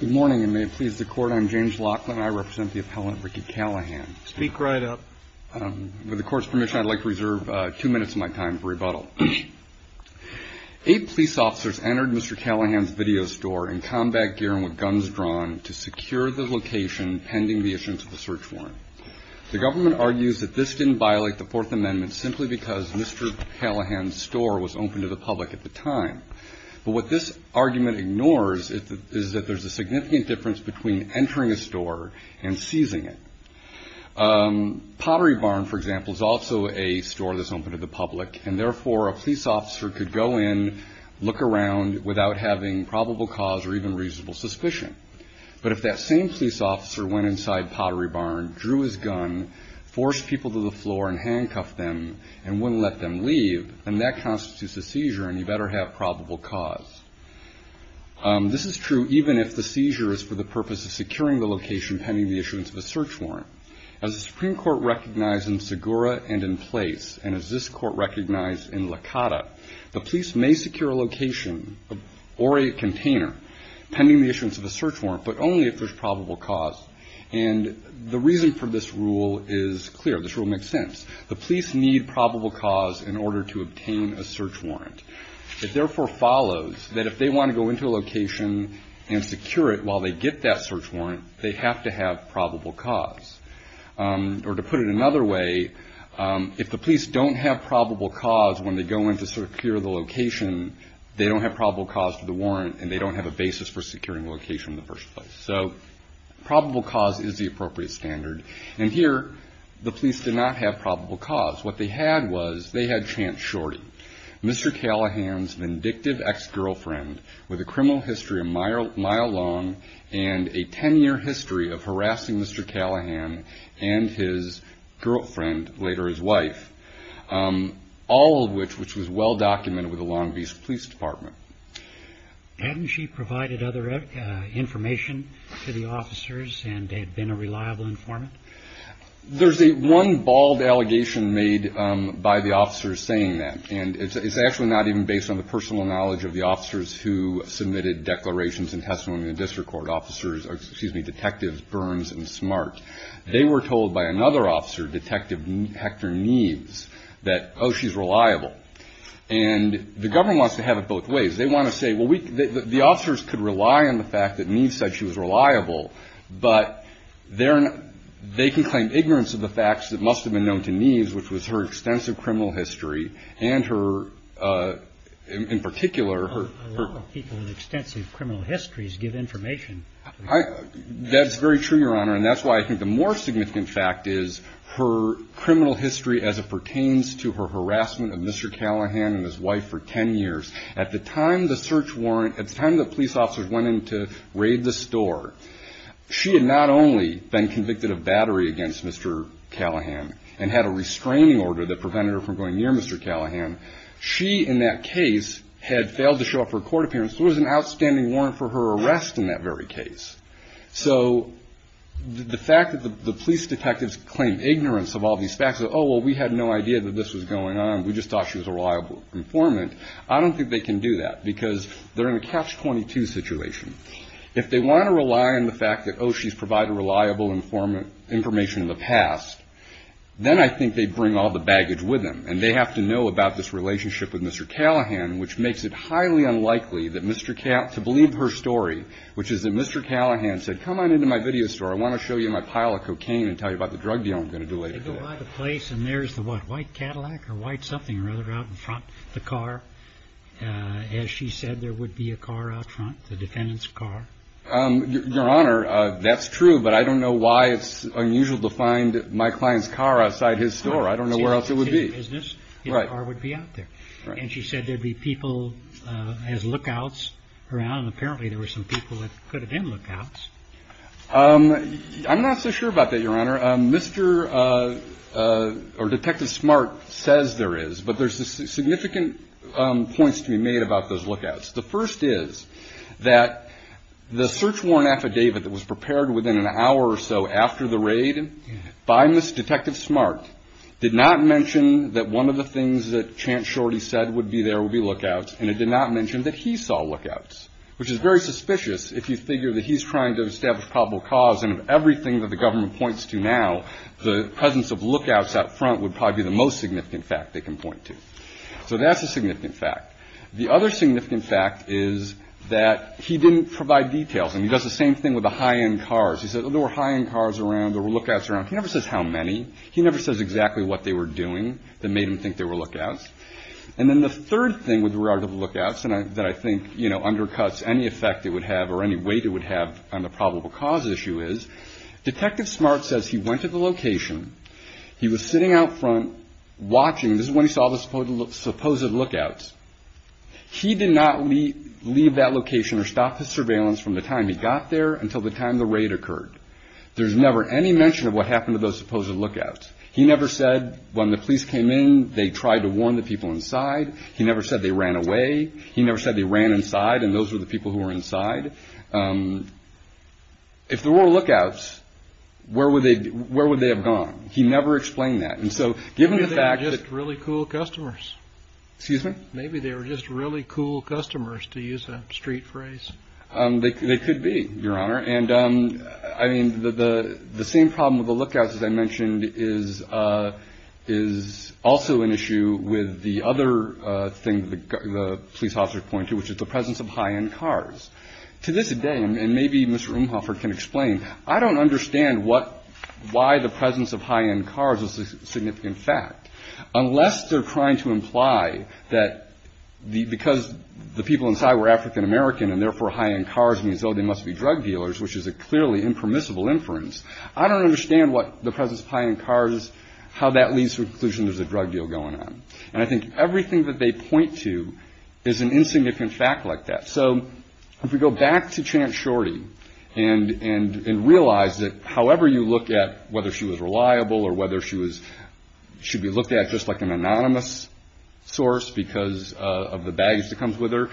Good morning and may it please the court, I'm James Laughlin and I represent the appellant Ricky Callahan. Speak right up. With the court's permission, I'd like to reserve two minutes of my time for rebuttal. Eight police officers entered Mr. Callahan's video store in combat gear and with guns drawn to secure the location pending the issuance of a search warrant. The government argues that this didn't violate the Fourth Amendment simply because Mr. Callahan's store was open to the public at the time. But what this argument ignores is that there's a significant difference between entering a store and seizing it. Pottery Barn, for example, is also a store that's open to the public and therefore a police officer could go in, look around without having probable cause or even reasonable suspicion. But if that same police officer went inside Pottery Barn, drew his gun, forced people to the floor and handcuffed them and wouldn't let them leave, then that constitutes a seizure and you better have probable cause. This is true even if the seizure is for the purpose of securing the location pending the issuance of a search warrant. As the Supreme Court recognized in Segura and in Place and as this court recognized in Lakata, the police may secure a location or a container pending the issuance of a search warrant but only if there's probable cause. And the reason for this rule is clear. This rule makes sense. The police need probable cause in order to obtain a search warrant. It therefore follows that if they want to go into a location and secure it while they get that search warrant, they have to have probable cause. Or to put it another way, if the police don't have probable cause when they go in to secure the location, they don't have probable cause for the warrant and they don't have a basis for securing the location in the first place. So probable cause is the appropriate standard. And here the police did not have probable cause. What they had was they had Chance Shorty, Mr. Callahan's vindictive ex-girlfriend with a criminal history a mile long and a 10-year history of harassing Mr. Callahan and his girlfriend, later his wife, all of which was well documented with the Long Beach Police Department. Hadn't she provided other information to the officers and had been a reliable informant? There's one bald allegation made by the officers saying that. And it's actually not even based on the personal knowledge of the officers who submitted declarations and testimony in the district court. Officers or, excuse me, detectives Burns and Smart, they were told by another officer, Detective Hector Neves, that, oh, she's reliable. And the government wants to have it both ways. They want to say, well, the officers could rely on the fact that Neves said she was reliable, but they can claim ignorance of the facts that must have been known to Neves, which was her extensive criminal history and her, in particular, her. A lot of people with extensive criminal histories give information. That's very true, Your Honor. And that's why I think the more significant fact is her criminal history as it pertains to her harassment of Mr. Callahan and his wife for ten years. At the time the search warrant, at the time the police officers went in to raid the store, she had not only been convicted of battery against Mr. Callahan and had a restraining order that prevented her from going near Mr. Callahan. She, in that case, had failed to show up for a court appearance. There was an outstanding warrant for her arrest in that very case. So the fact that the police detectives claim ignorance of all these facts, oh, well, we had no idea that this was going on. We just thought she was a reliable informant. I don't think they can do that because they're in a catch-22 situation. If they want to rely on the fact that, oh, she's provided reliable information in the past, then I think they bring all the baggage with them, and they have to know about this relationship with Mr. Callahan, which makes it highly unlikely to believe her story, which is that Mr. Callahan said, Come on into my video store. I want to show you my pile of cocaine and tell you about the drug deal I'm going to do later today. They go by the place, and there's the, what, white Cadillac or white something or other out in front of the car. As she said, there would be a car out front, the defendant's car. Your Honor, that's true, but I don't know why it's unusual to find my client's car outside his store. I don't know where else it would be. Right. And she said there'd be people as lookouts around, and apparently there were some people that could have been lookouts. I'm not so sure about that, Your Honor. Mr. or Detective Smart says there is, but there's significant points to be made about those lookouts. The first is that the search warrant affidavit that was prepared within an hour or so after the raid by Miss Detective Smart did not mention that one of the things that Chance Shorty said would be there would be lookouts, and it did not mention that he saw lookouts, which is very suspicious if you figure that he's trying to establish probable cause, and of everything that the government points to now, the presence of lookouts out front would probably be the most significant fact they can point to. So that's a significant fact. The other significant fact is that he didn't provide details, and he does the same thing with the high-end cars. He said there were high-end cars around or lookouts around. He never says how many. He never says exactly what they were doing that made him think there were lookouts. And then the third thing with regard to the lookouts that I think undercuts any effect it would have or any weight it would have on the probable cause issue is Detective Smart says he went to the location. He was sitting out front watching. This is when he saw the supposed lookouts. He did not leave that location or stop his surveillance from the time he got there until the time the raid occurred. There's never any mention of what happened to those supposed lookouts. He never said when the police came in, they tried to warn the people inside. He never said they ran away. He never said they ran inside, and those were the people who were inside. If there were lookouts, where would they have gone? He never explained that. And so given the fact that – Maybe they were just really cool customers. Excuse me? Maybe they were just really cool customers, to use a street phrase. They could be, Your Honor. And, I mean, the same problem with the lookouts, as I mentioned, is also an issue with the other thing the police officer pointed to, which is the presence of high-end cars. To this day, and maybe Mr. Umhoffer can explain, I don't understand why the presence of high-end cars is a significant fact, unless they're trying to imply that because the people inside were African-American and therefore high-end cars means, oh, they must be drug dealers, which is a clearly impermissible inference. I don't understand what the presence of high-end cars, how that leads to the conclusion there's a drug deal going on. And I think everything that they point to is an insignificant fact like that. So if we go back to Chance Shorty and realize that however you look at whether she was reliable or whether she should be looked at just like an anonymous source because of the baggage that comes with her,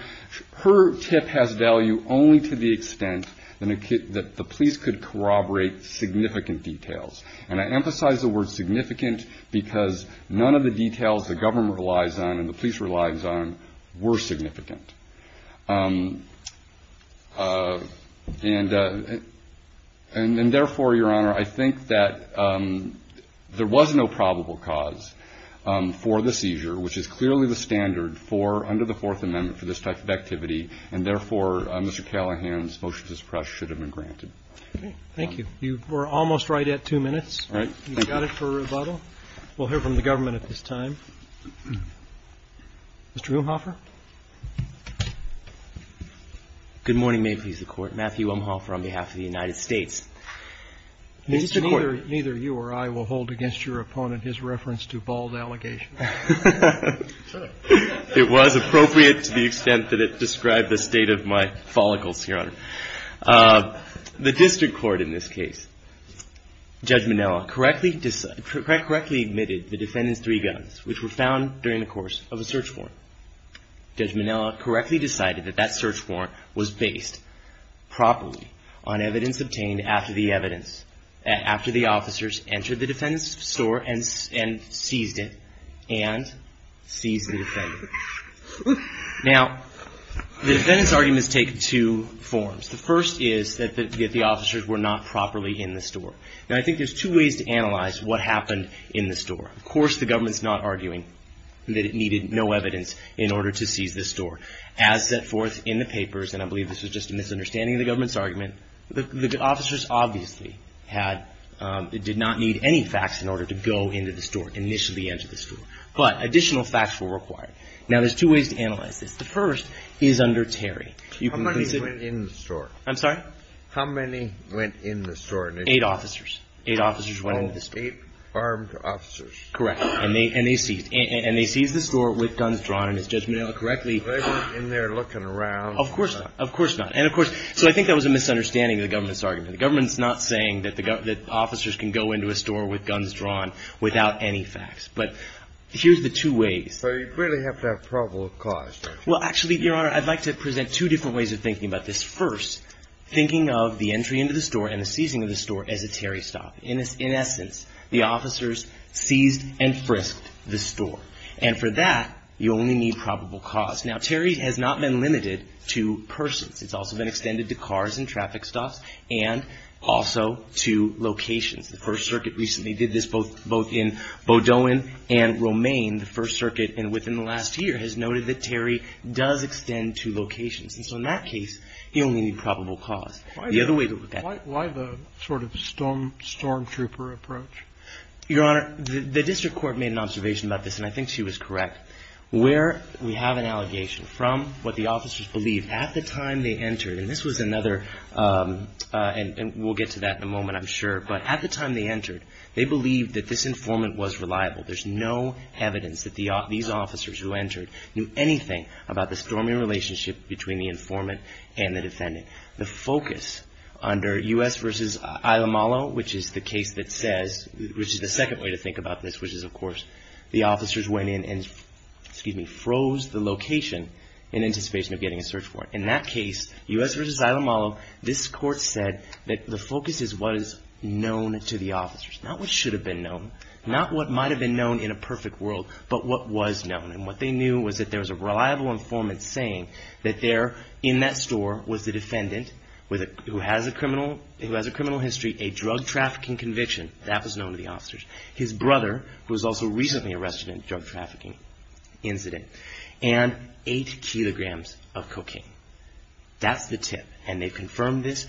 her tip has value only to the extent that the police could corroborate significant details. And I emphasize the word significant because none of the details the government relies on and the police relies on were significant. And therefore, Your Honor, I think that there was no probable cause for the seizure, which is clearly the standard for under the Fourth Amendment for this type of activity. And therefore, Mr. Callahan's motion to suppress should have been granted. Thank you. You were almost right at two minutes. You got it for rebuttal. We'll hear from the government at this time. Mr. Umhoffer. Good morning, May it please the Court. Matthew Umhoffer on behalf of the United States. Neither you or I will hold against your opponent his reference to bald allegations. It was appropriate to the extent that it described the state of my follicles, Your Honor. The district court in this case, Judge Minella correctly admitted the defendant's three guns, which were found during the course of a search warrant. Judge Minella correctly decided that that search warrant was based properly on evidence obtained after the evidence, store and seized it and seized the defendant. Now, the defendant's arguments take two forms. The first is that the officers were not properly in the store. Now, I think there's two ways to analyze what happened in the store. Of course, the government's not arguing that it needed no evidence in order to seize the store. As set forth in the papers, and I believe this was just a misunderstanding of the government's argument, the officers obviously did not need any facts in order to go into the store, initially enter the store. But additional facts were required. Now, there's two ways to analyze this. The first is under Terry. How many went in the store? I'm sorry? How many went in the store? Eight officers. Eight officers went in the store. Eight armed officers. Correct. And they seized the store with guns drawn in, as Judge Minella correctly. Were they in there looking around? Of course not. Of course not. And, of course, so I think that was a misunderstanding of the government's argument. The government's not saying that officers can go into a store with guns drawn without any facts. But here's the two ways. So you really have to have probable cause. Well, actually, Your Honor, I'd like to present two different ways of thinking about this. First, thinking of the entry into the store and the seizing of the store as a Terry stop. In essence, the officers seized and frisked the store. And for that, you only need probable cause. Now, Terry has not been limited to persons. It's also been extended to cars and traffic stops and also to locations. The First Circuit recently did this both in Beaudoin and Romaine. The First Circuit, within the last year, has noted that Terry does extend to locations. And so in that case, you only need probable cause. The other way to look at it. Why the sort of storm trooper approach? Your Honor, the district court made an observation about this, and I think she was correct. Where we have an allegation from what the officers believed at the time they entered. And this was another. And we'll get to that in a moment, I'm sure. But at the time they entered, they believed that this informant was reliable. There's no evidence that these officers who entered knew anything about the storming relationship between the informant and the defendant. The focus under U.S. v. Ilamalo, which is the case that says, which is the second way to think about this, which is, of course, the officers went in and, excuse me, froze the location in anticipation of getting a search warrant. In that case, U.S. v. Ilamalo, this court said that the focus is what is known to the officers. Not what should have been known. Not what might have been known in a perfect world. But what was known. And what they knew was that there was a reliable informant saying that there, in that store, was the defendant who has a criminal history, a drug trafficking conviction. That was known to the officers. His brother was also recently arrested in a drug trafficking incident. And eight kilograms of cocaine. That's the tip. And they've confirmed this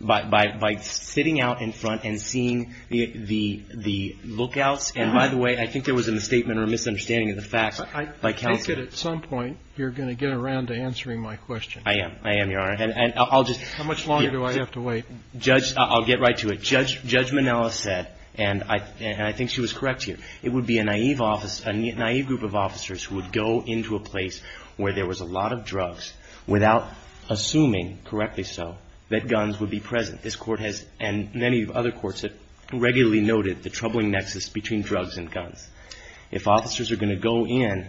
by sitting out in front and seeing the lookouts. And, by the way, I think there was a misstatement or a misunderstanding of the facts. I think that at some point you're going to get around to answering my question. I am. I am, Your Honor. How much longer do I have to wait? I'll get right to it. As Judge Minella said, and I think she was correct here, it would be a naive group of officers who would go into a place where there was a lot of drugs without assuming, correctly so, that guns would be present. This court has, and many other courts, have regularly noted the troubling nexus between drugs and guns. If officers are going to go in,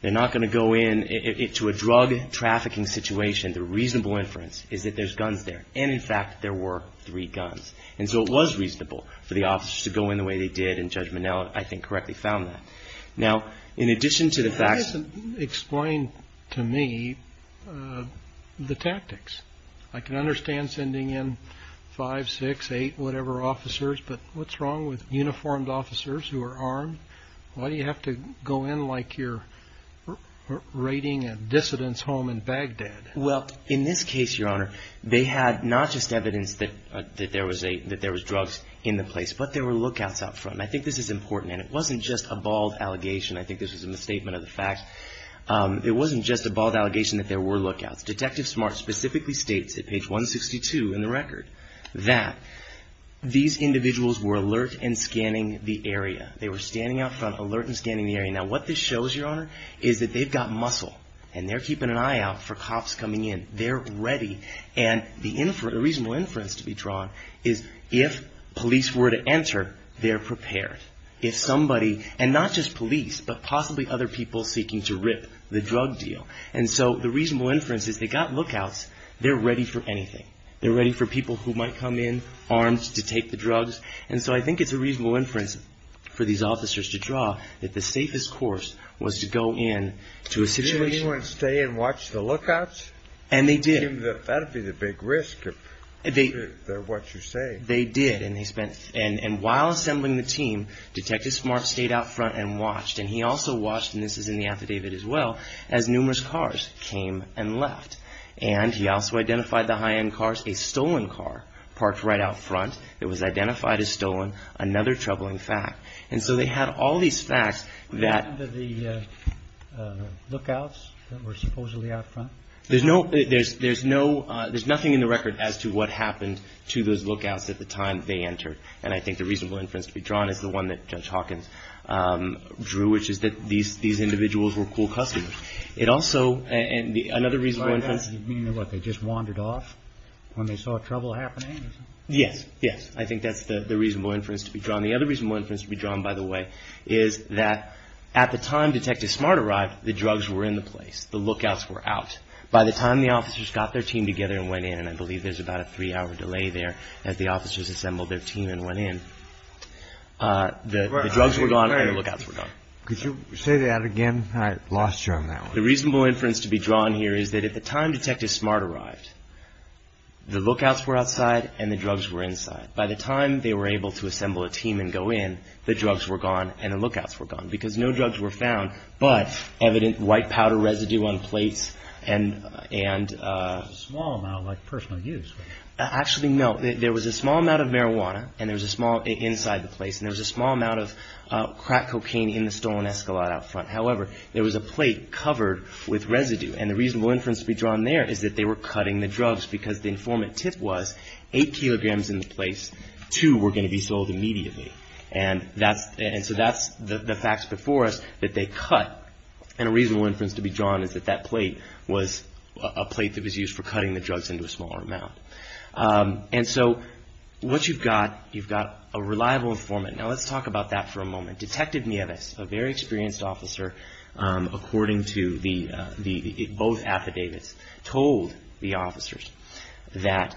they're not going to go into a drug trafficking situation. The reasonable inference is that there's guns there. And, in fact, there were three guns. And so it was reasonable for the officers to go in the way they did, and Judge Minella, I think, correctly found that. Now, in addition to the facts. Explain to me the tactics. I can understand sending in five, six, eight, whatever officers, but what's wrong with uniformed officers who are armed? Why do you have to go in like you're raiding a dissident's home in Baghdad? Well, in this case, Your Honor, they had not just evidence that there was drugs in the place, but there were lookouts out front. And I think this is important, and it wasn't just a bald allegation. I think this was a misstatement of the facts. It wasn't just a bald allegation that there were lookouts. Detective Smart specifically states at page 162 in the record that these individuals were alert and scanning the area. They were standing out front, alert and scanning the area. Now, what this shows, Your Honor, is that they've got muscle, and they're keeping an eye out for cops coming in. They're ready. And the reasonable inference to be drawn is if police were to enter, they're prepared. If somebody, and not just police, but possibly other people seeking to rip the drug deal. And so the reasonable inference is they got lookouts. They're ready for anything. They're ready for people who might come in armed to take the drugs. And so I think it's a reasonable inference for these officers to draw that the safest course was to go in to a situation. Did anyone stay and watch the lookouts? And they did. That would be the big risk if they're what you say. They did. And while assembling the team, Detective Smart stayed out front and watched. And he also watched, and this is in the affidavit as well, as numerous cars came and left. And he also identified the high-end cars, a stolen car parked right out front that was identified as stolen, another troubling fact. And so they had all these facts that the lookouts that were supposedly out front. There's no, there's nothing in the record as to what happened to those lookouts at the time they entered. And I think the reasonable inference to be drawn is the one that Judge Hawkins drew, which is that these individuals were cool customers. It also, and another reasonable inference. You mean what, they just wandered off when they saw trouble happening? Yes. Yes. I think that's the reasonable inference to be drawn. The other reasonable inference to be drawn, by the way, is that at the time Detective Smart arrived, the drugs were in the place. The lookouts were out. By the time the officers got their team together and went in, and I believe there's about a three-hour delay there as the officers assembled their team and went in, the drugs were gone and the lookouts were gone. Could you say that again? I lost you on that one. The reasonable inference to be drawn here is that at the time Detective Smart arrived, the lookouts were outside and the drugs were inside. By the time they were able to assemble a team and go in, the drugs were gone and the lookouts were gone because no drugs were found, but evident white powder residue on plates and... A small amount like personal use. Actually, no. There was a small amount of marijuana and there was a small inside the place and there was a small amount of crack cocaine in the stolen Escalade out front. However, there was a plate covered with residue. And the reasonable inference to be drawn there is that they were cutting the drugs because the informant tip was eight kilograms in the place, two were going to be sold immediately. And so that's the facts before us that they cut. And a reasonable inference to be drawn is that that plate was a plate that was used for cutting the drugs into a smaller amount. And so what you've got, you've got a reliable informant. Now let's talk about that for a moment. Detective Nieves, a very experienced officer, according to both affidavits, told the officers that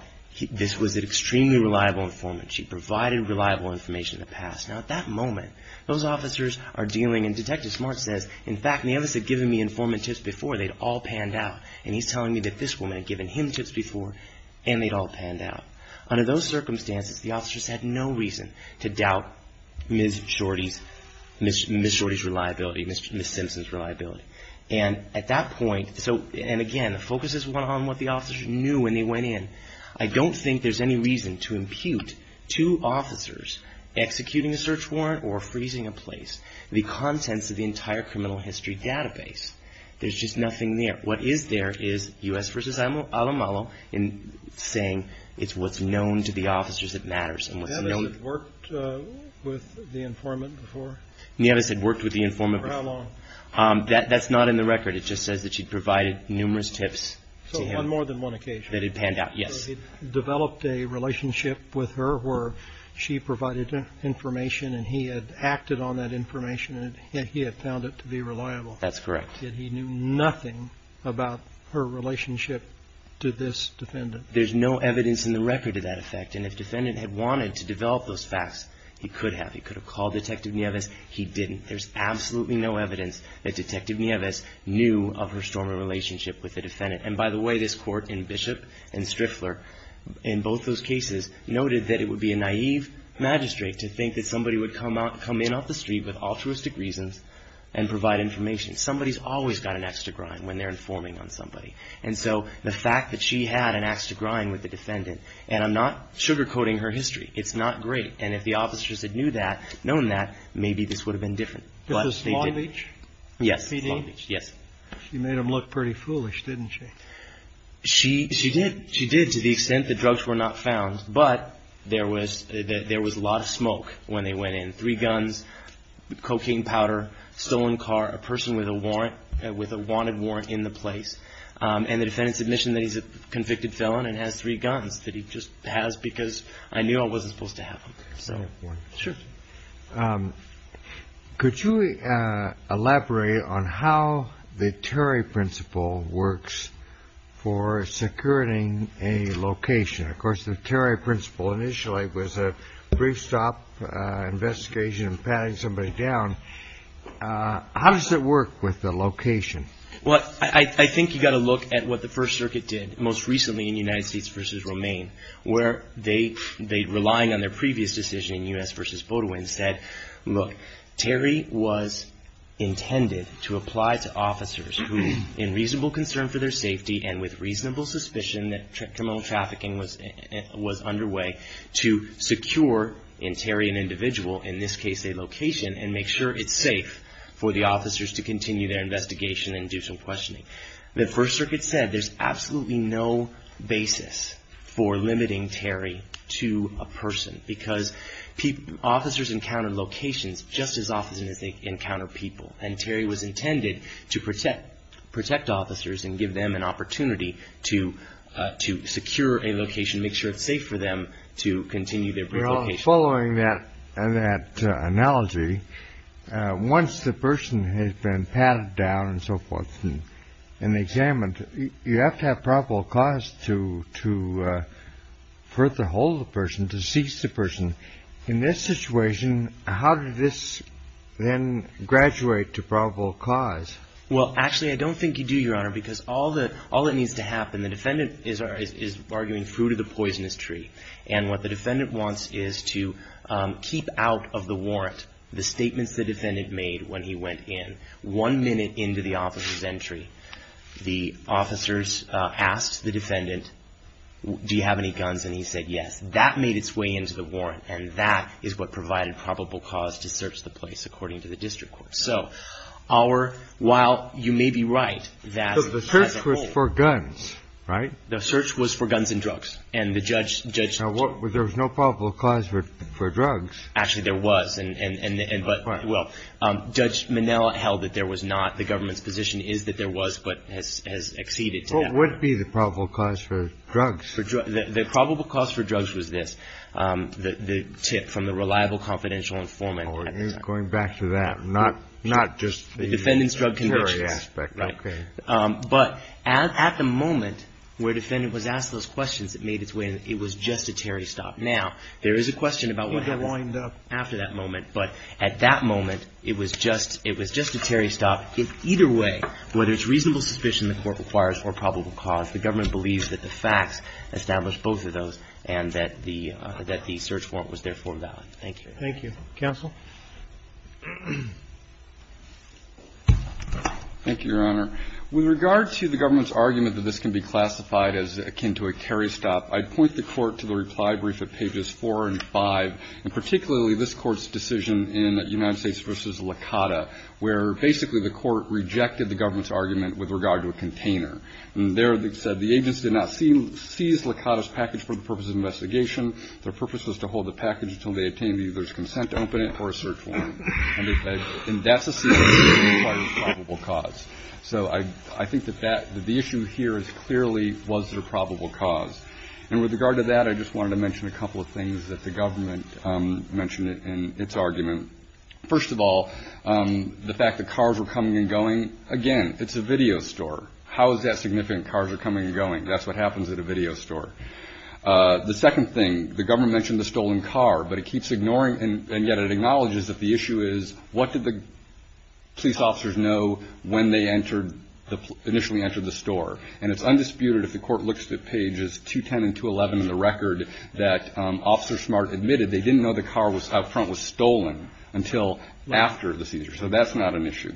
this was an extremely reliable informant. She provided reliable information in the past. Now at that moment, those officers are dealing and Detective Smart says, in fact, Nieves had given me informant tips before, they'd all panned out. And he's telling me that this woman had given him tips before and they'd all panned out. Under those circumstances, the officers had no reason to doubt Ms. Shorty's reliability, Ms. Simpson's reliability. And at that point, so and again, the focus is on what the officers knew when they went in. I don't think there's any reason to impute to officers executing a search warrant or freezing a place the contents of the entire criminal history database. There's just nothing there. What is there is U.S. v. Alamalo in saying it's what's known to the officers that matters. And what's known... Nieves had worked with the informant before? Nieves had worked with the informant before. For how long? That's not in the record. It just says that she'd provided numerous tips to him. So on more than one occasion. That had panned out, yes. So he'd developed a relationship with her where she provided information and he had acted on that information and he had found it to be reliable. That's correct. Yet he knew nothing about her relationship to this defendant. There's no evidence in the record of that effect. And if the defendant had wanted to develop those facts, he could have. He could have called Detective Nieves. He didn't. There's absolutely no evidence that Detective Nieves knew of her storming relationship with the defendant. And by the way, this court in Bishop and Striffler, in both those cases, noted that it would be a naive magistrate to think that somebody would come in off the street with altruistic reasons and provide information. Somebody's always got an axe to grind when they're informing on somebody. And so the fact that she had an axe to grind with the defendant, and I'm not sugarcoating her history, it's not great. And if the officers had known that, maybe this would have been different. This is Long Beach? Yes. Long Beach. Yes. She made him look pretty foolish, didn't she? She did. She did to the extent that drugs were not found. But there was a lot of smoke when they went in. Three guns, cocaine powder, stolen car, a person with a warrant, with a wanted warrant in the place. And the defendant's admission that he's a convicted felon and has three guns, that he just has because I knew I wasn't supposed to have them. Could you elaborate on how the Terry principle works for securing a location? Of course, the Terry principle initially was a brief stop investigation and patting somebody down. How does it work with the location? Well, I think you've got to look at what the First Circuit did most recently in United States v. Romaine, where they, relying on their previous decision in U.S. v. Boudouin, said, look, Terry was intended to apply to officers who, in reasonable concern for their safety and with reasonable suspicion that criminal trafficking was underway, to secure in Terry an individual, in this case a location, and make sure it's safe for the officers to continue their investigation and do some questioning. The First Circuit said there's absolutely no basis for limiting Terry to a person because officers encounter locations just as often as they encounter people. And Terry was intended to protect officers and give them an opportunity to secure a location, make sure it's safe for them to continue their brief location. Following that analogy, once the person has been patted down and so forth and examined, you have to have probable cause to further hold the person, to seize the person. In this situation, how did this then graduate to probable cause? Well, actually, I don't think you do, Your Honor, because all that needs to happen, the defendant is arguing fruit of the poisonous tree. And what the defendant wants is to keep out of the warrant the statements the defendant made when he went in. One minute into the officer's entry, the officers asked the defendant, do you have any guns? And he said, yes. That made its way into the warrant, and that is what provided probable cause to search the place, according to the district court. So our – while you may be right that the search was for guns, right? The search was for guns and drugs. And the judge – Now, there was no probable cause for drugs. Actually, there was. Right. Well, Judge Minnell held that there was not. The government's position is that there was, but has exceeded to that point. What would be the probable cause for drugs? The probable cause for drugs was this, the tip from the reliable confidential informant at the time. Oh, going back to that. Not just the – The defendant's drug convictions. Right. Okay. But at the moment where the defendant was asked those questions, it made its way – it was just a Terry stop. Now, there is a question about what happens after that moment, but at that moment, it was just a Terry stop. In either way, whether it's reasonable suspicion the court requires for a probable cause, the government believes that the facts establish both of those and that the search warrant was therefore valid. Thank you. Thank you. Counsel? Thank you, Your Honor. With regard to the government's argument that this can be classified as akin to a Terry stop, I'd point the court to the reply brief at pages four and five, and particularly this court's decision in United States v. Licata, where basically the court rejected the government's argument with regard to a container. And there it said the agency did not seize Licata's package for the purpose of investigation. Their purpose was to hold the package until they obtained either its consent to open it or a search warrant. And that's a cease and desist for the probable cause. So I think that the issue here is clearly was there a probable cause. And with regard to that, I just wanted to mention a couple of things that the government mentioned in its argument. First of all, the fact that cars were coming and going, again, it's a video store. How is that significant, cars are coming and going? That's what happens at a video store. The second thing, the government mentioned the stolen car, but it keeps ignoring, and yet it acknowledges that the issue is what did the police officers know when they initially entered the store? And it's undisputed if the court looks at pages 210 and 211 in the record that Officer Smart admitted they didn't know the car out front was stolen until after the seizure, so that's not an issue.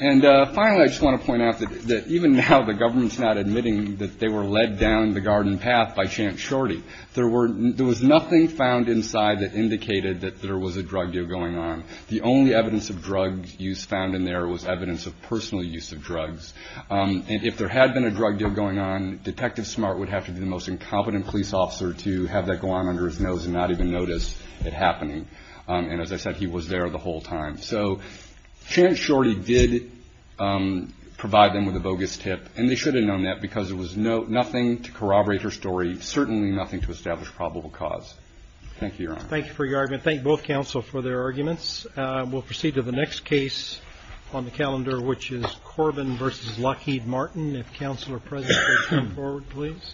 And finally, I just want to point out that even now the government's not admitting that they were led down the garden path by Champ Shorty. There was nothing found inside that indicated that there was a drug deal going on. The only evidence of drug use found in there was evidence of personal use of drugs. And if there had been a drug deal going on, Detective Smart would have to be the most incompetent police officer to have that go on under his nose and not even notice it happening. And as I said, he was there the whole time. So Champ Shorty did provide them with a bogus tip, and they should have known that because it was nothing to corroborate her story, certainly nothing to establish probable cause. Thank you, Your Honor. Thank you for your argument. Thank both counsel for their arguments. We'll proceed to the next case on the calendar, which is Corbin v. Lockheed Martin. If counsel are present, please come forward, please.